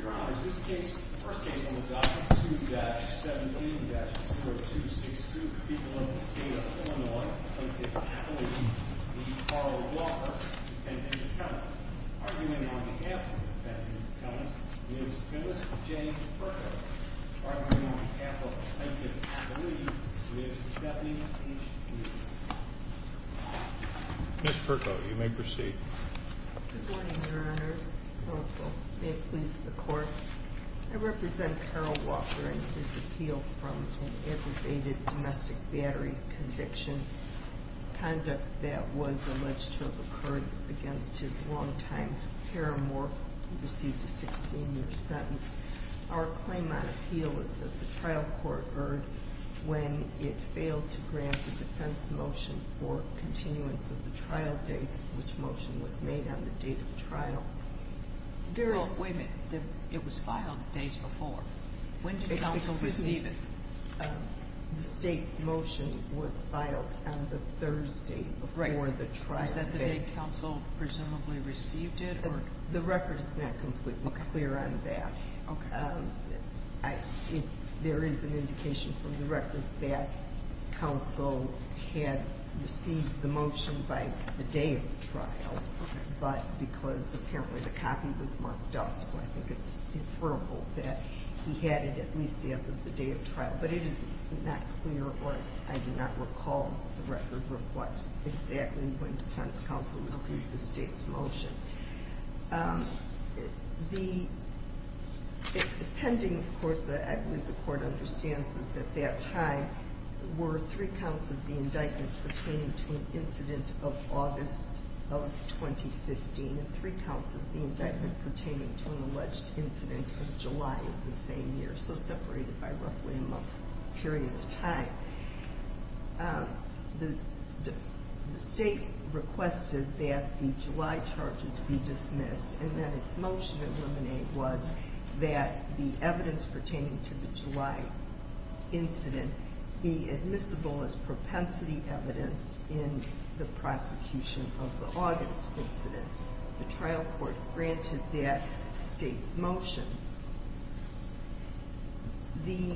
The first case on the docket is 2-17-0262, the people of the state of Illinois, Plaintiff's Appellation, v. Carl Walker, Defendant's Accountant. Arguing on behalf of the Defendant's Accountant is Dennis J. Perko. Arguing on behalf of the Plaintiff's Appellation is Stephanie H. Lee. Ms. Perko, you may proceed. Good morning, Your Honors. Counsel, may it please the Court, I represent Carl Walker in his appeal from an aggravated domestic battery conviction, conduct that was alleged to have occurred against his longtime paramour who received a 16-year sentence. Our claim on appeal is that the trial court heard when it failed to grant the defense motion for continuance of the trial date, which motion was made on the date of the trial. Wait a minute, it was filed days before. When did counsel receive it? The state's motion was filed on the Thursday before the trial date. Is that the date counsel presumably received it? The record is not completely clear on that. There is an indication from the record that counsel had received the motion by the day of the trial, but because apparently the copy was marked off, so I think it's inferrable that he had it at least as of the day of trial. But it is not clear or I do not recall the record reflects exactly when defense counsel received the state's motion. The pending, of course, I believe the Court understands this at that time, were three counts of the indictment pertaining to an incident of August of 2015 and three counts of the indictment pertaining to an alleged incident of July of the same year. They're so separated by roughly a month's period of time. The state requested that the July charges be dismissed and that its motion eliminate was that the evidence pertaining to the July incident be admissible as propensity evidence in the prosecution of the August incident. The trial court granted that state's motion. The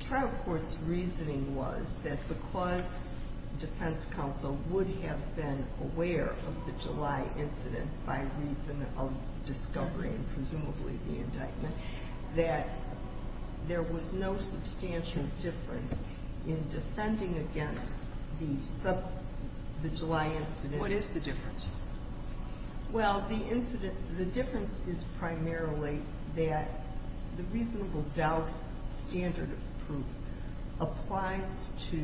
trial court's reasoning was that because defense counsel would have been aware of the July incident by reason of discovery and presumably the indictment, that there was no substantial difference in defending against the July incident. What is the difference? Well, the incident, the difference is primarily that the reasonable doubt standard of proof applies to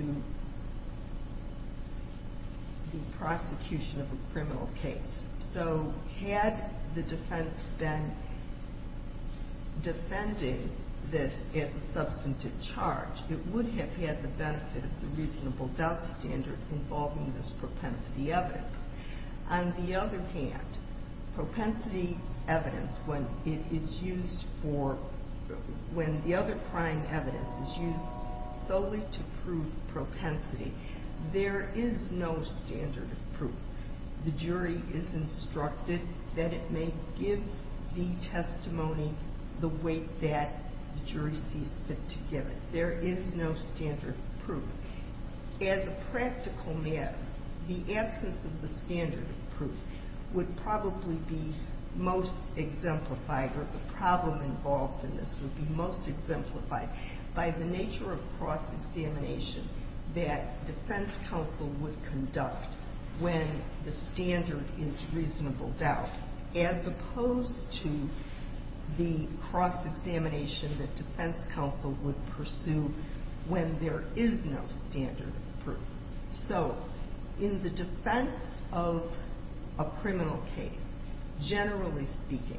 the prosecution of a criminal case. So had the defense been defending this as a substantive charge, it would have had the benefit of the reasonable doubt standard involving this propensity evidence. On the other hand, propensity evidence, when it is used for, when the other crime evidence is used solely to prove propensity, there is no standard of proof. The jury is instructed that it may give the testimony the way that the jury sees fit to give it. There is no standard of proof. As a practical matter, the absence of the standard of proof would probably be most exemplified, or the problem involved in this would be most exemplified, by the nature of cross-examination that defense counsel would conduct when the standard is reasonable doubt, as opposed to the cross-examination that defense counsel would pursue when there is no standard of proof. So in the defense of a criminal case, generally speaking,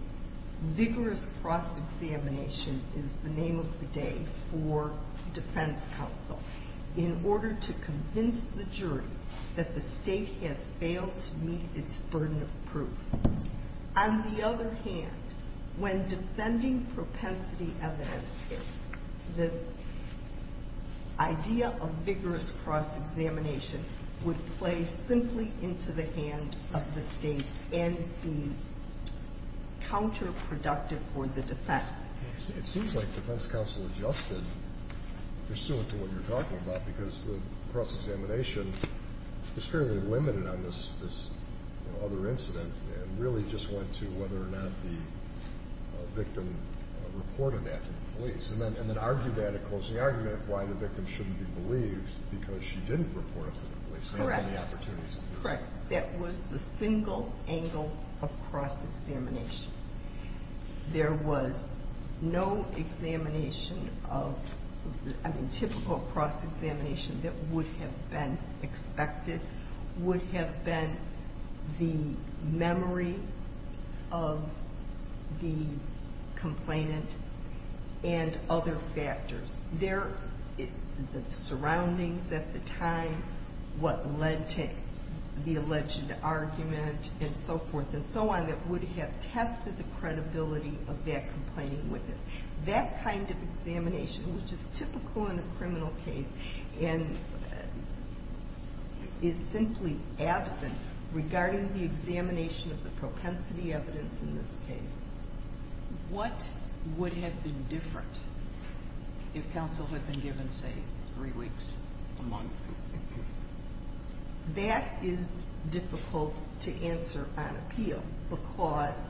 vigorous cross-examination is the name of the day for defense counsel in order to convince the jury that the state has failed to meet its burden of proof. On the other hand, when defending propensity evidence, the idea of vigorous cross-examination would play simply into the hands of the state and be counterproductive for the defense. It seems like defense counsel adjusted pursuant to what you're talking about, because the cross-examination was fairly limited on this other incident, and really just went to whether or not the victim reported that to the police. And then argued that, and closed the argument of why the victim shouldn't be believed because she didn't report it to the police. Correct. That was the single angle of cross-examination. There was no examination of, I mean, typical cross-examination that would have been expected, would have been the memory of the complainant and other factors. Their surroundings at the time, what led to the alleged argument, and so forth and so on, that would have tested the credibility of that complaining witness. That kind of examination, which is typical in a criminal case, and is simply absent regarding the examination of the propensity evidence in this case. What would have been different if counsel had been given, say, three weeks, a month? That is difficult to answer on appeal, because,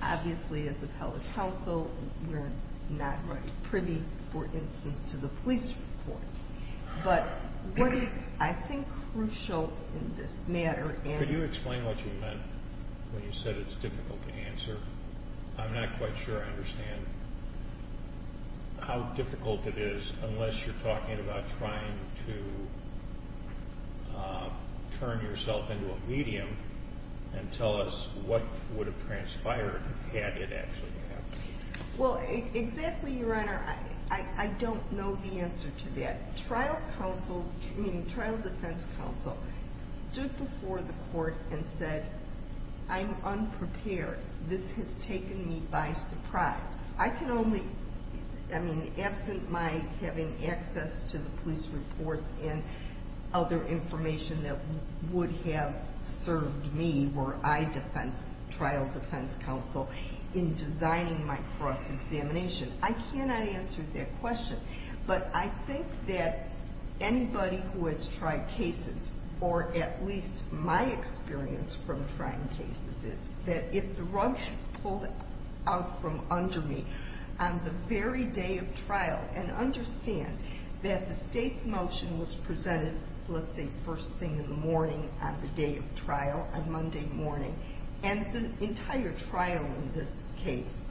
obviously, as appellate counsel, we're not privy, for instance, to the police reports. But what is, I think, crucial in this matter... Could you explain what you meant when you said it's difficult to answer? I'm not quite sure I understand how difficult it is, unless you're talking about trying to turn yourself into a medium and tell us what would have transpired had it actually happened. Well, exactly, Your Honor, I don't know the answer to that. A trial defense counsel stood before the court and said, I'm unprepared. This has taken me by surprise. I can only... I mean, absent my having access to the police reports and other information that would have served me, were I trial defense counsel, in designing my cross-examination. I cannot answer that question. But I think that anybody who has tried cases, or at least my experience from trying cases, is that if the rug is pulled out from under me, on the very day of trial, and understand that the State's motion was presented, let's say, first thing in the morning on the day of trial, on Monday morning, and the entire trial in this case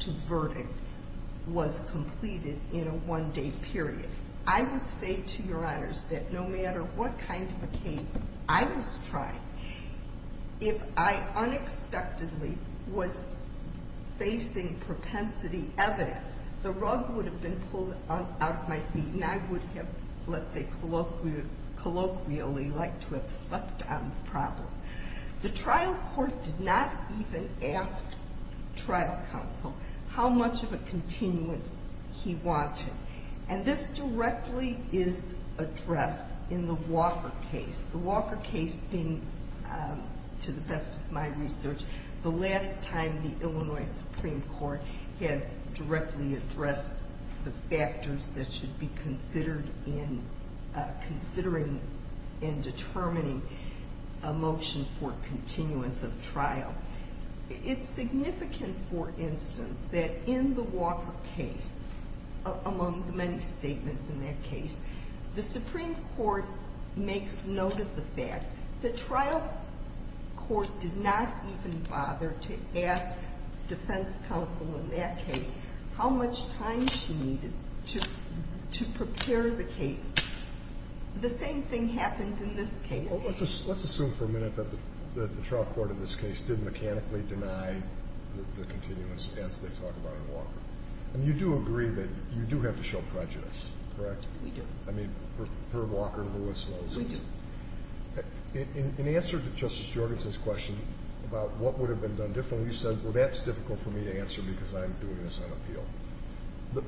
to verdict was completed in a one-day period, I would say to Your Honors that no matter what kind of a case I was trying, if I unexpectedly was facing propensity evidence, the rug would have been pulled out of my feet, and I would have, let's say, colloquially liked to have slept on the problem. The trial court did not even ask trial counsel how much of a continuance he wanted. And this directly is addressed in the Walker case. The Walker case being, to the best of my research, the last time the Illinois Supreme Court has directly addressed the factors that should be considered in considering and determining a motion for continuance of trial. It's significant, for instance, that in the Walker case, among the many statements in that case, the Supreme Court makes note of the fact that trial court did not even bother to ask defense counsel in that case how much time she needed to prepare the case. The same thing happened in this case. Well, let's assume for a minute that the trial court in this case did mechanically deny the continuance as they talk about in Walker. And you do agree that you do have to show prejudice, correct? We do. I mean, per Walker and Lewis laws. We do. In answer to Justice Jorgensen's question about what would have been done differently, you said, well, that's difficult for me to answer because I'm doing this on appeal.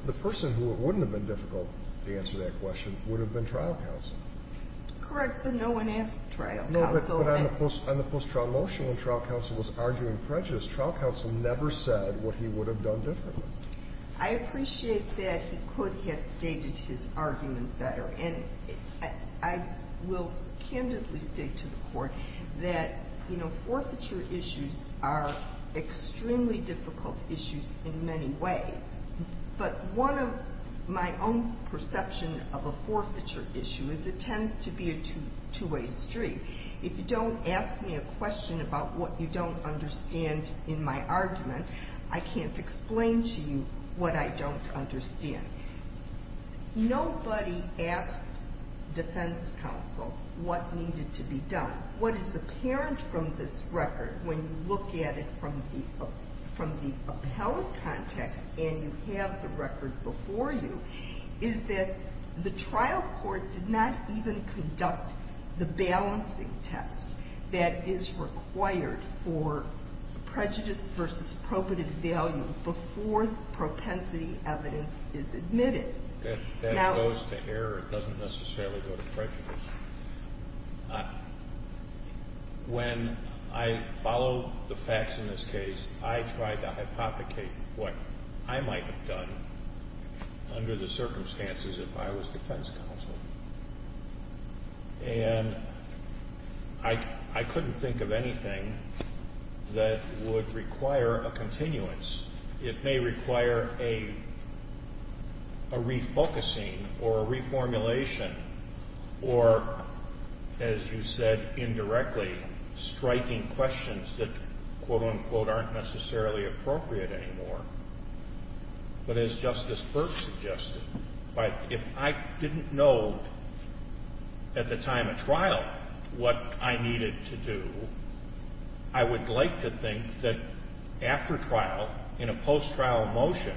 The person who it wouldn't have been difficult to answer that question would have been trial counsel. Correct, but no one asked trial counsel. No, but on the post-trial motion, when trial counsel was arguing prejudice, trial counsel never said what he would have done differently. I appreciate that he could have stated his argument better. And I will candidly state to the Court that, you know, forfeiture issues are extremely difficult issues in many ways. But one of my own perception of a forfeiture issue is it tends to be a two-way street. If you don't ask me a question about what you don't understand in my argument, I can't explain to you what I don't understand. Nobody asked defense counsel what needed to be done. Now, what is apparent from this record, when you look at it from the appellate context and you have the record before you, is that the trial court did not even conduct the balancing test that is required for prejudice versus probative value before propensity evidence is admitted. That goes to error. It doesn't necessarily go to prejudice. When I follow the facts in this case, I try to hypothecate what I might have done under the circumstances if I was defense counsel. And I couldn't think of anything that would require a continuance. It may require a refocusing or a reformulation or, as you said indirectly, striking questions that, quote, unquote, aren't necessarily appropriate anymore. But as Justice Burke suggested, if I didn't know at the time of trial what I needed to do, I would like to think that after trial, in a post-trial motion,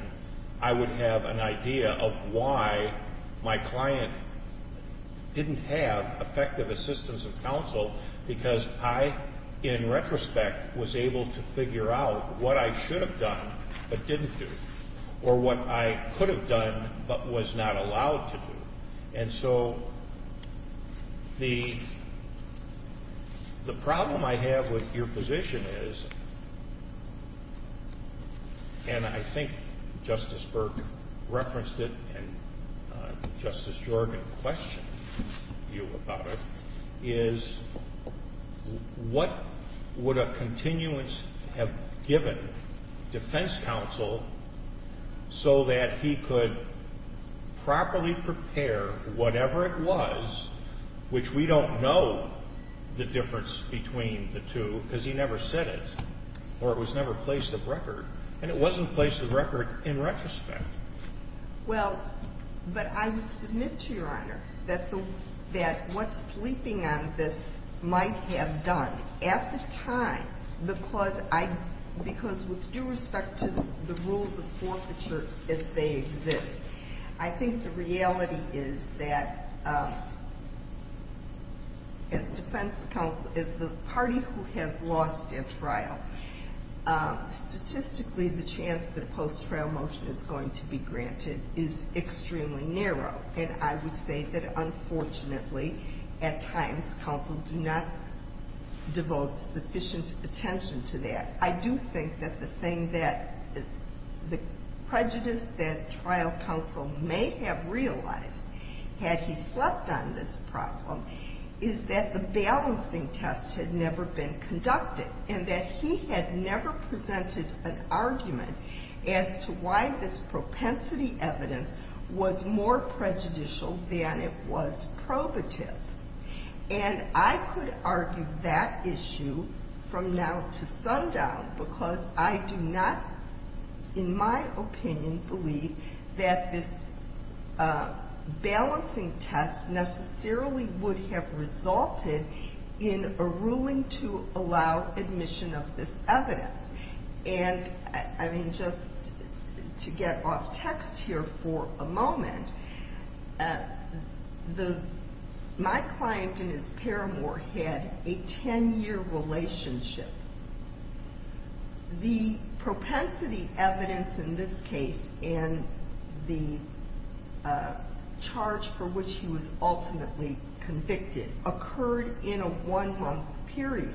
I would have an idea of why my client didn't have effective assistance of counsel because I, in retrospect, was able to figure out what I should have done. But didn't do. Or what I could have done but was not allowed to do. And so the problem I have with your position is, and I think Justice Burke referenced it and Justice Jordan questioned you about it, is what would a continuance have given defense counsel so that he could properly prepare, whatever it was, which we don't know the difference between the two because he never said it or it was never placed of record, and it wasn't placed of record in retrospect. Well, but I would submit to Your Honor that what's sleeping on this might have done at the time because I, because with due respect to the rules of forfeiture as they exist, I think the reality is that as defense counsel, as the party who has lost at trial, statistically the chance that a post-trial motion is going to be granted is extremely narrow. And I would say that, unfortunately, at times counsel do not devote sufficient attention to that. And we had never presented an argument as to why this propensity evidence was more prejudicial than it was probative. And I could argue that issue from now to sundown because I do not, in my opinion, believe that this balancing test necessarily would have resulted in a ruling to allow admission of this evidence. And, I mean, just to get off text here for a moment, my client and his paramour had a ten-year relationship. The propensity evidence in this case and the charge for which he was ultimately convicted occurred in a one-month period.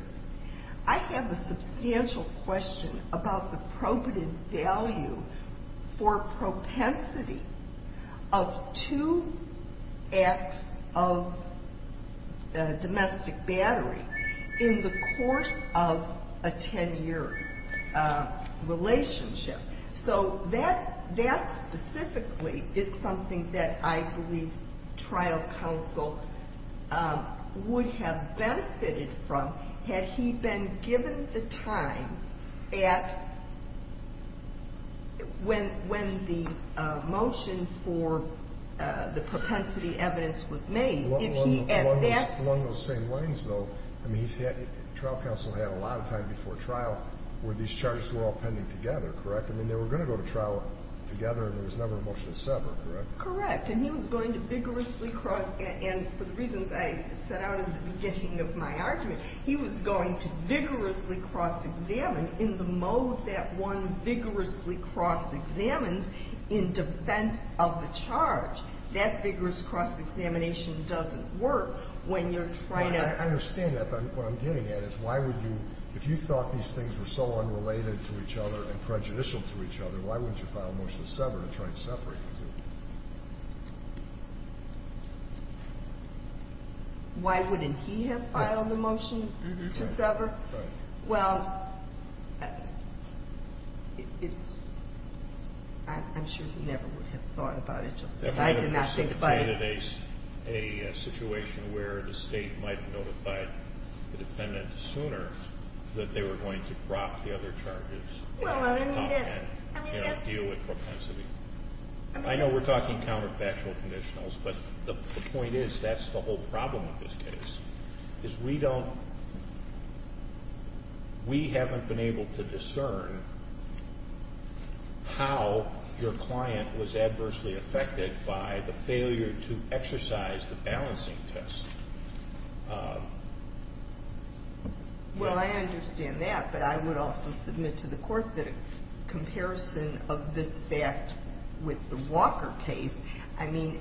I have a substantial question about the probative value for propensity of two acts of domestic battery in the course of a ten-year relationship. So that specifically is something that I believe trial counsel would have benefited from had he been given the time at when the motion for the propensity evidence was made. Along those same lines, though, I mean, trial counsel had a lot of time before trial where these charges were all pending together, correct? I mean, they were going to go to trial together and there was never a motion to sever, correct? Correct. And he was going to vigorously cross – and for the reasons I set out in the beginning of my argument, he was going to vigorously cross-examine in the mode that one vigorously cross-examines in defense of the charge. That vigorous cross-examination doesn't work when you're trying to – Why wouldn't he have filed the motion to sever? Well, it's – I'm sure he never would have thought about it just as I did not think about it. I know we're talking counterfactual conditionals, but the point is that's the whole problem with this case, is we don't – we haven't been able to discern how your client was adversely affected by the failure to cross-examine. Honestly, if the client had agreed to exercise the balancing test, whether – Well, I understand that, adjourned. I mean,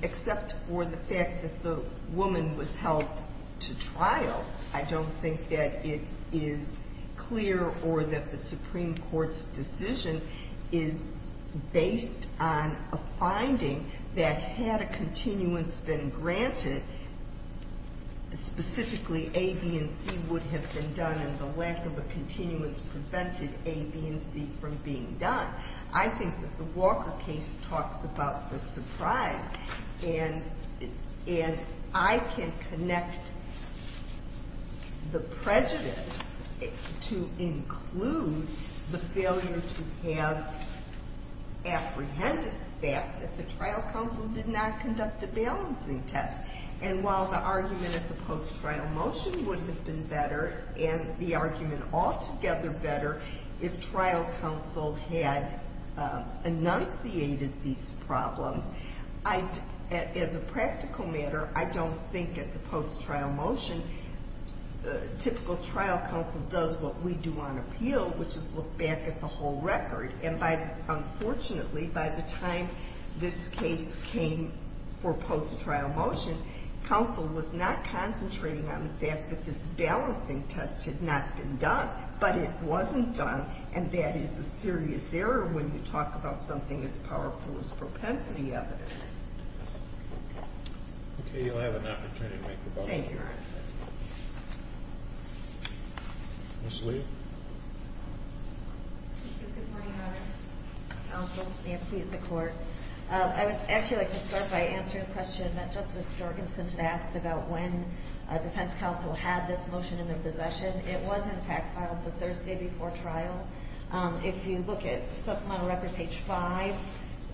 except for the fact that the woman was helped to trial, I don't think that it is clear or that the Supreme Court's decision is based on a finding that had a continuance been granted, specifically A, B, and C would have been done, and the lack of a continuance prevented A, B, and C from being done. I think that the Walker case talks about the surprise, and I can connect the prejudice to include the failure to have apprehended the fact that the trial counsel did not conduct a balancing test. And while the argument at the post-trial motion would have been better and the argument altogether better if trial counsel had enunciated these problems, as a practical matter, I don't think at the post-trial motion typical trial counsel does what we do on appeal, which is look back at the whole record. And by – unfortunately, by the time this case came for post-trial motion, counsel was not concentrating on the fact that this balancing test had not been done, but it wasn't done, and that is a serious error when you talk about something as powerful as propensity evidence. Okay, you'll have an opportunity to make a vote. Thank you, Your Honor. Ms. Lee? Good morning, Your Honor. Counsel, and please, the Court. I would actually like to start by answering a question that Justice Jorgensen had asked about when defense counsel had this motion in their possession. It was, in fact, filed the Thursday before trial. If you look at supplemental record page 5,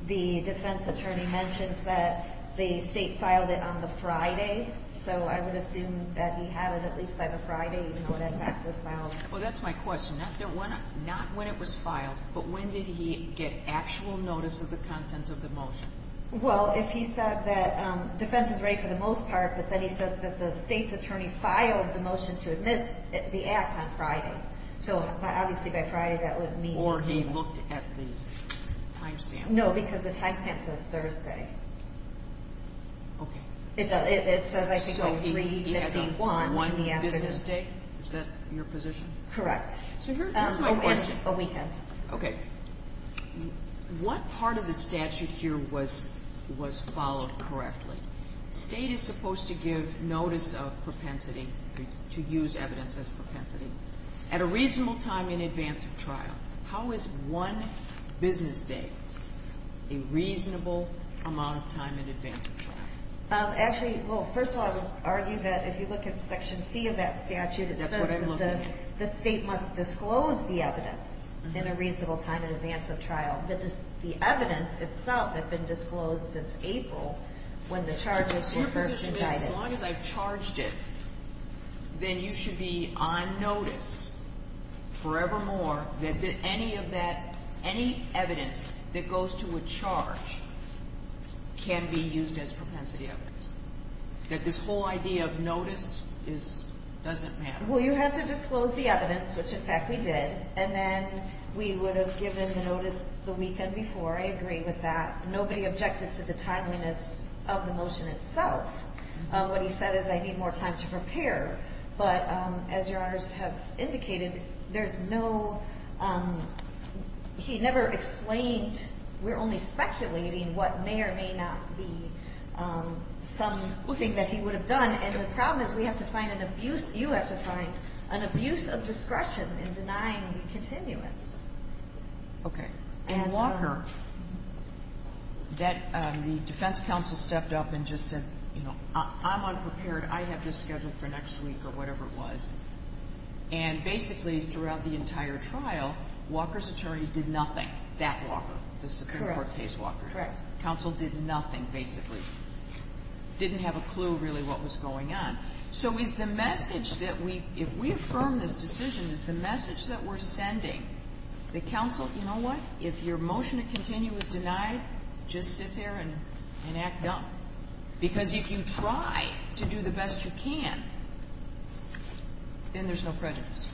the defense attorney mentions that the state filed it on the Friday, so I would assume that he had it at least by the Friday, even though that fact was filed. Well, that's my question. Not when it was filed, but when did he get actual notice of the content of the motion? Well, if he said that defense is ready for the most part, but then he said that the state's attorney filed the motion to admit the acts on Friday. So, obviously, by Friday, that would mean that. Or he looked at the timestamp. No, because the timestamp says Thursday. Okay. It does. It says, I think, on 3-51. One business day. Is that your position? Correct. So here's my question. A weekend. Okay. What part of the statute here was followed correctly? State is supposed to give notice of propensity, to use evidence as propensity, at a reasonable time in advance of trial. How is one business day a reasonable amount of time in advance of trial? Actually, well, first of all, I would argue that if you look at Section C of that statute, it says that the state must disclose the evidence in a reasonable time in advance of trial. But the evidence itself had been disclosed since April, when the charges were first indicted. As long as I've charged it, then you should be on notice forevermore that any evidence that goes to a charge can be used as propensity evidence. That this whole idea of notice doesn't matter. Well, you have to disclose the evidence, which, in fact, we did. And then we would have given the notice the weekend before. I agree with that. Nobody objected to the timeliness of the motion itself. What he said is, I need more time to prepare. But as Your Honors have indicated, there's no – he never explained – we're only speculating what may or may not be some thing that he would have done. And the problem is we have to find an abuse – you have to find an abuse of discretion in denying the continuance. Okay. And Walker, that the defense counsel stepped up and just said, you know, I'm unprepared. I have this scheduled for next week or whatever it was. And basically, throughout the entire trial, Walker's attorney did nothing. That Walker, the Supreme Court case Walker. Correct. Counsel did nothing, basically. Didn't have a clue, really, what was going on. So is the message that we – if we affirm this decision, is the message that we're sending the counsel, you know what? If your motion to continue is denied, just sit there and act dumb. Because if you try to do the best you can, then there's no prejudice.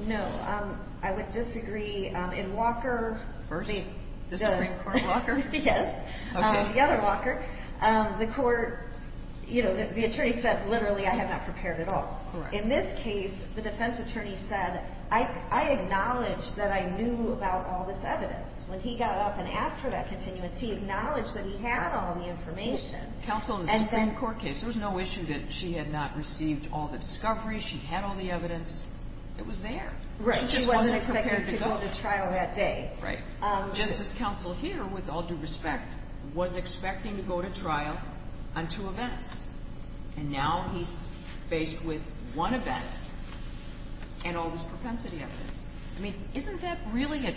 No. I would disagree. In Walker – First? The Supreme Court Walker? Yes. Okay. The other Walker. The court – you know, the attorney said, literally, I have not prepared at all. Correct. In this case, the defense attorney said, I acknowledge that I knew about all this evidence. When he got up and asked for that continuance, he acknowledged that he had all the information. Counsel in the Supreme Court case, there was no issue that she had not received all the discoveries. She had all the evidence. It was there. Right. She just wasn't prepared to go to trial that day. Right. Justice Counsel here, with all due respect, was expecting to go to trial on two events. And now he's faced with one event and all this propensity evidence. I mean, isn't that really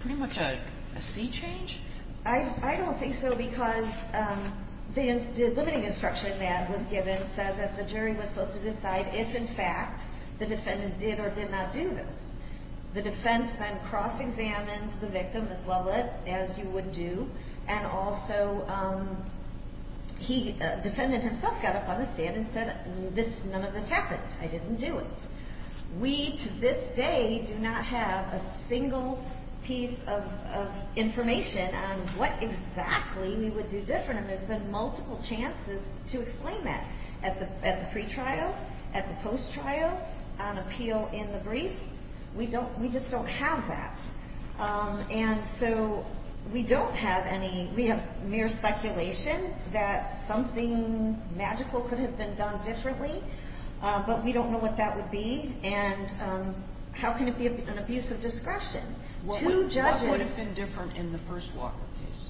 pretty much a sea change? I don't think so because the limiting instruction that was given said that the jury was supposed to decide if, in fact, the defendant did or did not do this. The defense then cross-examined the victim as well as you would do. And also, the defendant himself got up on the stand and said, none of this happened. I didn't do it. We, to this day, do not have a single piece of information on what exactly we would do different. And there's been multiple chances to explain that. At the pretrial, at the post-trial, on appeal in the briefs. We just don't have that. And so we don't have any. We have mere speculation that something magical could have been done differently. But we don't know what that would be. And how can it be an abuse of discretion? What would have been different in the first Walker case?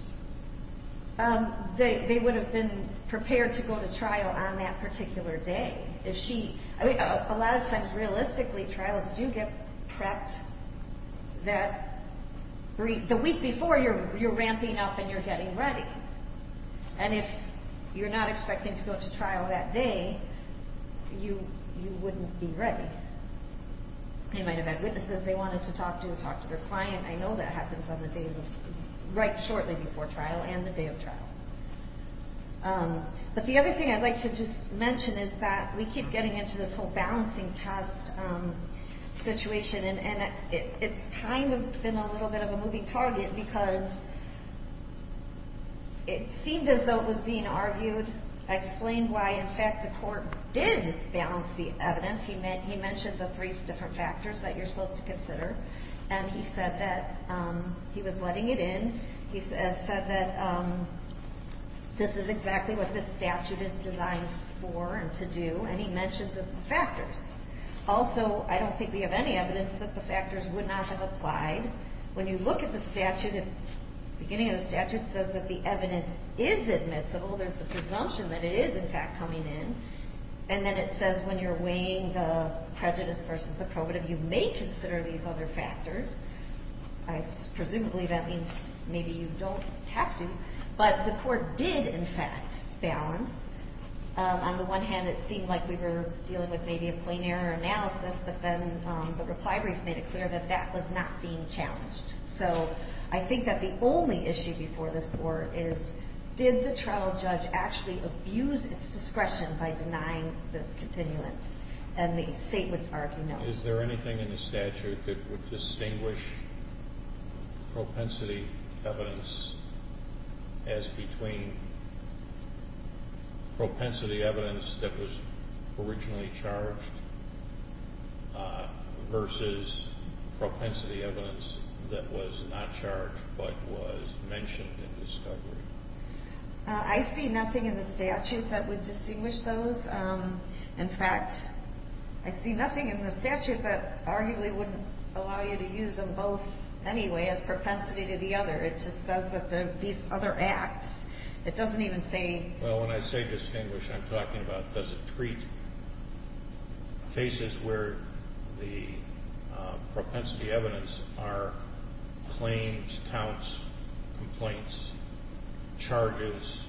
They would have been prepared to go to trial on that particular day. A lot of times, realistically, trials do get prepped that week before you're ramping up and you're getting ready. And if you're not expecting to go to trial that day, you wouldn't be ready. They might have had witnesses they wanted to talk to, talk to their client. I know that happens on the days right shortly before trial and the day of trial. But the other thing I'd like to just mention is that we keep getting into this whole balancing test situation. And it's kind of been a little bit of a moving target because it seemed as though it was being argued, explained why, in fact, the court did balance the evidence. He mentioned the three different factors that you're supposed to consider. And he said that he was letting it in. He said that this is exactly what this statute is designed for and to do. And he mentioned the factors. Also, I don't think we have any evidence that the factors would not have applied. When you look at the statute, the beginning of the statute says that the evidence is admissible. There's the presumption that it is, in fact, coming in. And then it says when you're weighing the prejudice versus the probative, you may consider these other factors. Presumably, that means maybe you don't have to. But the court did, in fact, balance. On the one hand, it seemed like we were dealing with maybe a plain error analysis. But then the reply brief made it clear that that was not being challenged. So I think that the only issue before this court is did the trial judge actually abuse its discretion by denying this continuance? And the State would argue no. Is there anything in the statute that would distinguish propensity evidence as between propensity evidence that was originally charged versus propensity evidence that was not charged but was mentioned in discovery? I see nothing in the statute that would distinguish those. In fact, I see nothing in the statute that arguably wouldn't allow you to use them both anyway as propensity to the other. It just says that these other acts. It doesn't even say. Well, when I say distinguish, I'm talking about does it treat cases where the propensity evidence are claims, counts, complaints, charges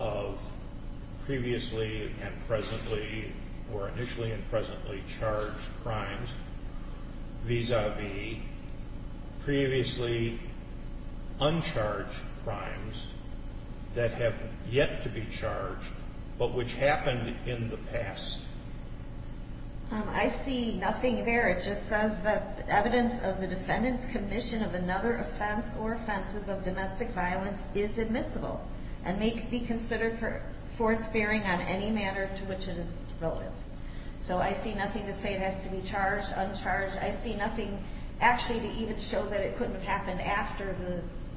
of previously and presently or initially and presently charged crimes vis-a-vis previously uncharged crimes that have yet to be charged but which happened in the past. I see nothing there. It just says that evidence of the defendant's commission of another offense or offenses of domestic violence is admissible and may be considered for its bearing on any matter to which it is relevant. So I see nothing to say it has to be charged, uncharged. I see nothing actually to even show that it couldn't have happened after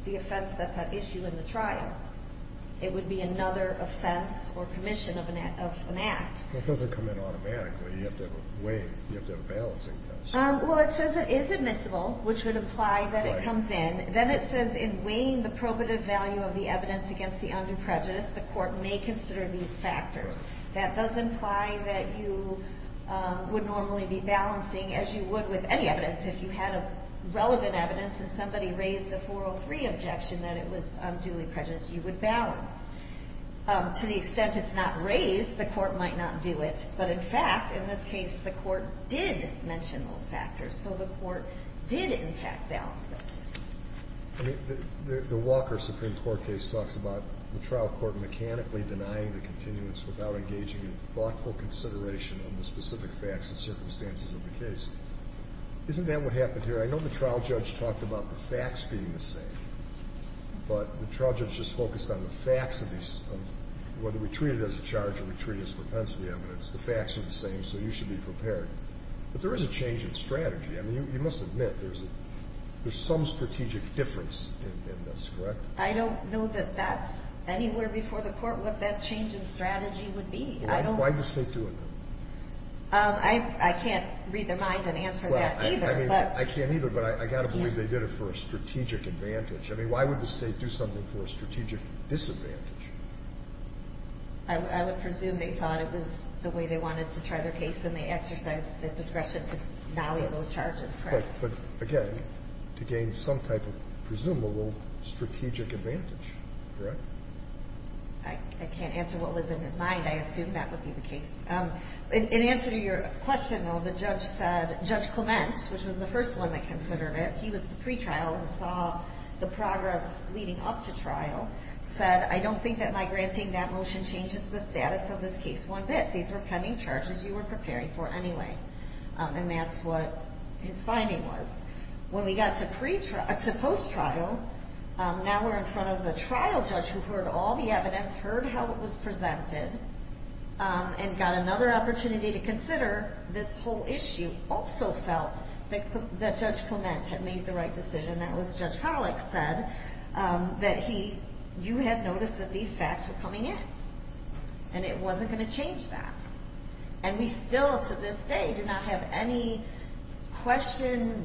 the offense that's at issue in the trial. It would be another offense or commission of an act. It doesn't come in automatically. You have to have a weighing. You have to have a balancing test. Well, it says it is admissible, which would imply that it comes in. Then it says in weighing the probative value of the evidence against the undue prejudice, the court may consider these factors. That does imply that you would normally be balancing, as you would with any evidence, if you had relevant evidence and somebody raised a 403 objection that it was unduly prejudiced, you would balance. To the extent it's not raised, the court might not do it. But, in fact, in this case, the court did mention those factors, so the court did, in fact, balance it. I mean, the Walker Supreme Court case talks about the trial court mechanically denying the continuance without engaging in thoughtful consideration of the specific facts and circumstances of the case. Isn't that what happened here? I mean, I know the trial judge talked about the facts being the same, but the trial judge just focused on the facts of whether we treat it as a charge or we treat it as propensity evidence. The facts are the same, so you should be prepared. But there is a change in strategy. I mean, you must admit there's some strategic difference in this, correct? I don't know that that's anywhere before the court what that change in strategy would be. Why does the State do it, then? I can't read their mind and answer that either. I mean, I can't either, but I got to believe they did it for a strategic advantage. I mean, why would the State do something for a strategic disadvantage? I would presume they thought it was the way they wanted to try their case, and they exercised the discretion to nolly those charges, correct? But, again, to gain some type of presumable strategic advantage, correct? I can't answer what was in his mind. I assume that would be the case. In answer to your question, though, the judge said Judge Clement, which was the first one that considered it, he was the pretrial and saw the progress leading up to trial, said, I don't think that my granting that motion changes the status of this case one bit. These were pending charges you were preparing for anyway. And that's what his finding was. When we got to post-trial, now we're in front of the trial judge who heard all the evidence, heard how it was presented, and got another opportunity to consider this whole issue, also felt that Judge Clement had made the right decision. That was, Judge Hollick said that you had noticed that these facts were coming in, and it wasn't going to change that. And we still, to this day, do not have any additional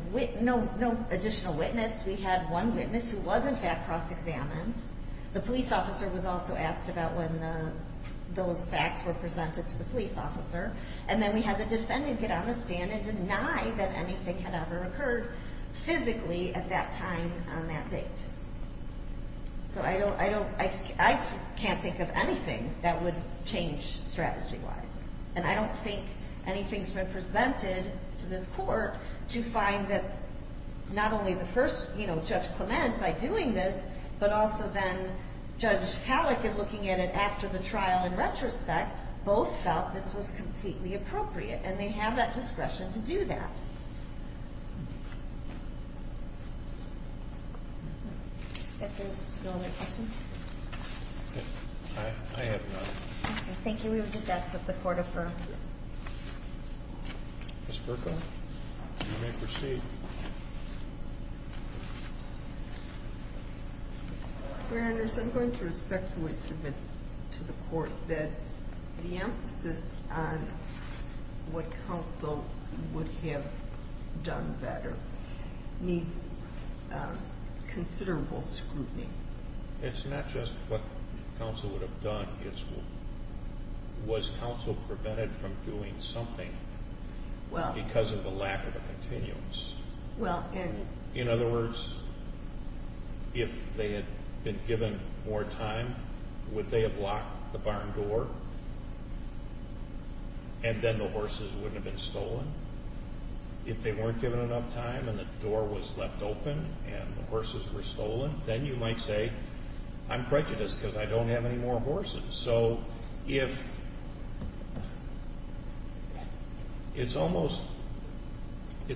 witness. We had one witness who was, in fact, cross-examined. The police officer was also asked about when those facts were presented to the police officer. And then we had the defendant get on the stand and deny that anything had ever occurred physically at that time on that date. So I can't think of anything that would change strategy-wise. And I don't think anything's been presented to this court to find that not only the first, you know, Judge Clement by doing this, but also then Judge Hollick in looking at it after the trial in retrospect, both felt this was completely appropriate, and they have that discretion to do that. If there's no other questions. I have none. Thank you. We would just ask that the Court affirm. Ms. Buerkle, you may proceed. Your Honors, I'm going to respectfully submit to the Court that the emphasis on what counsel would have done better needs considerable scrutiny. It's not just what counsel would have done. It's was counsel prevented from doing something because of the lack of a continuance. In other words, if they had been given more time, would they have locked the barn door and then the horses wouldn't have been stolen? If they weren't given enough time and the door was left open and the horses were stolen, then you might say, I'm prejudiced because I don't have any more horses. So it's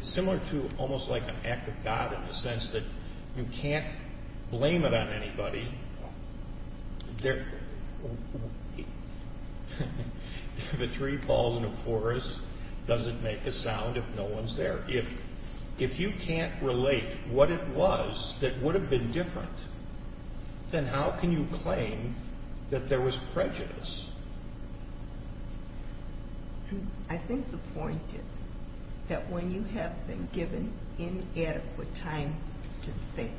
similar to almost like an act of God in the sense that you can't blame it on anybody. If a tree falls in a forest, does it make a sound if no one's there? If you can't relate what it was that would have been different, then how can you claim that there was prejudice? I think the point is that when you have been given inadequate time to think,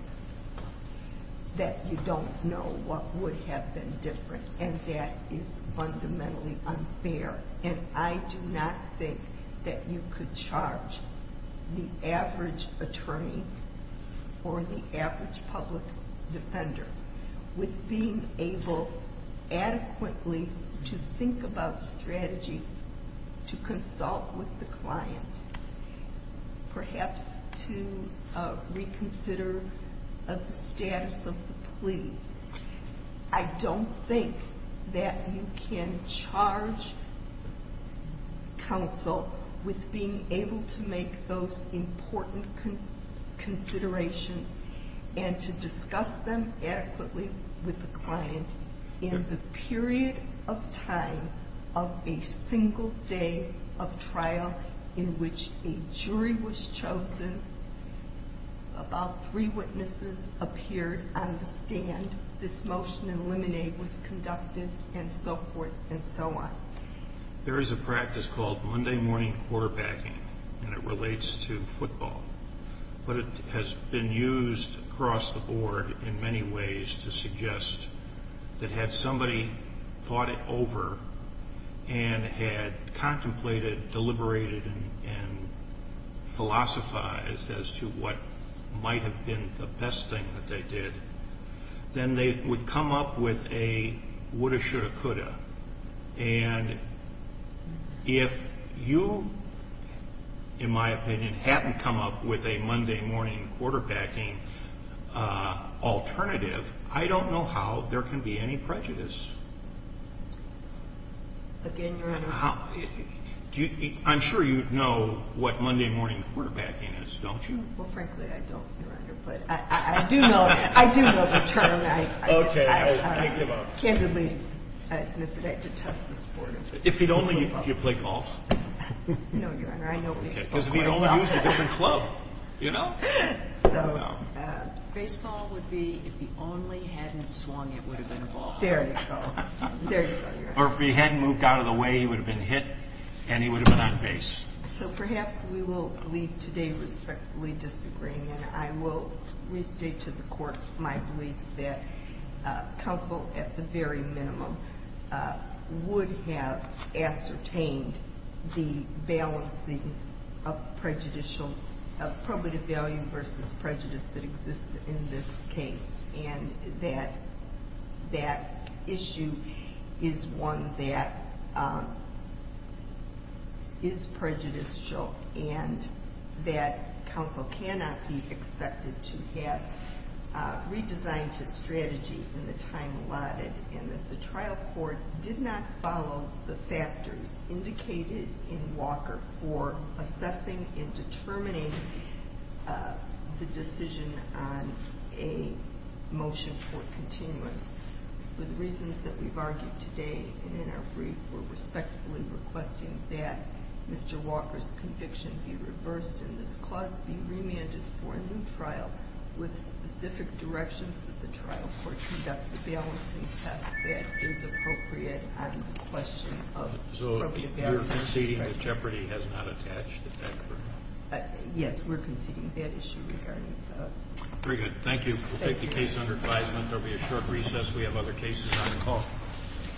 that you don't know what would have been different, and that is fundamentally unfair. And I do not think that you could charge the average attorney or the average public defender with being able adequately to think about strategy to consult with the client, perhaps to reconsider the status of the plea. I don't think that you can charge counsel with being able to make those important considerations and to discuss them adequately with the client in the period of time of a single day of trial in which a jury was chosen, about three witnesses appeared on the stand, this motion to eliminate was conducted, and so forth and so on. There is a practice called Monday morning quarterbacking, and it relates to football. But it has been used across the board in many ways to suggest that had somebody thought it over and had contemplated, deliberated, and philosophized as to what might have been the best thing that they did, then they would come up with a woulda, shoulda, coulda. And if you, in my opinion, hadn't come up with a Monday morning quarterbacking alternative, I don't know how there can be any prejudice. Again, Your Honor. I'm sure you know what Monday morning quarterbacking is, don't you? Well, frankly, I don't, Your Honor, but I do know the term. Okay, I give up. Candidly, I detest the sport of it. If you'd only used it to play golf. No, Your Honor, I know baseball quite well. Because if you'd only used it to go to a club, you know? Baseball would be if you only hadn't swung, it would have been a ball. There you go. Or if he hadn't moved out of the way, he would have been hit, and he would have been on base. So perhaps we will leave today respectfully disagreeing, and I will restate to the Court my belief that counsel, at the very minimum, would have ascertained the balancing of probative value versus prejudice that exists in this case, and that that issue is one that is prejudicial, and that counsel cannot be expected to have redesigned his strategy in the time allotted, and that the trial court did not follow the factors indicated in Walker for assessing and determining the decision on a motion for continuance. For the reasons that we've argued today and in our brief, we're respectfully requesting that Mr. Walker's conviction be reversed in this clause, be remanded for a new trial with a specific direction for the trial court to conduct the balancing test that is appropriate on the question of probative value versus prejudice. So you're conceding that jeopardy has not attached at that point? Yes, we're conceding that issue regarding that. Very good. Thank you. We'll take the case under advisement. There will be a short recess. We have other cases on the call.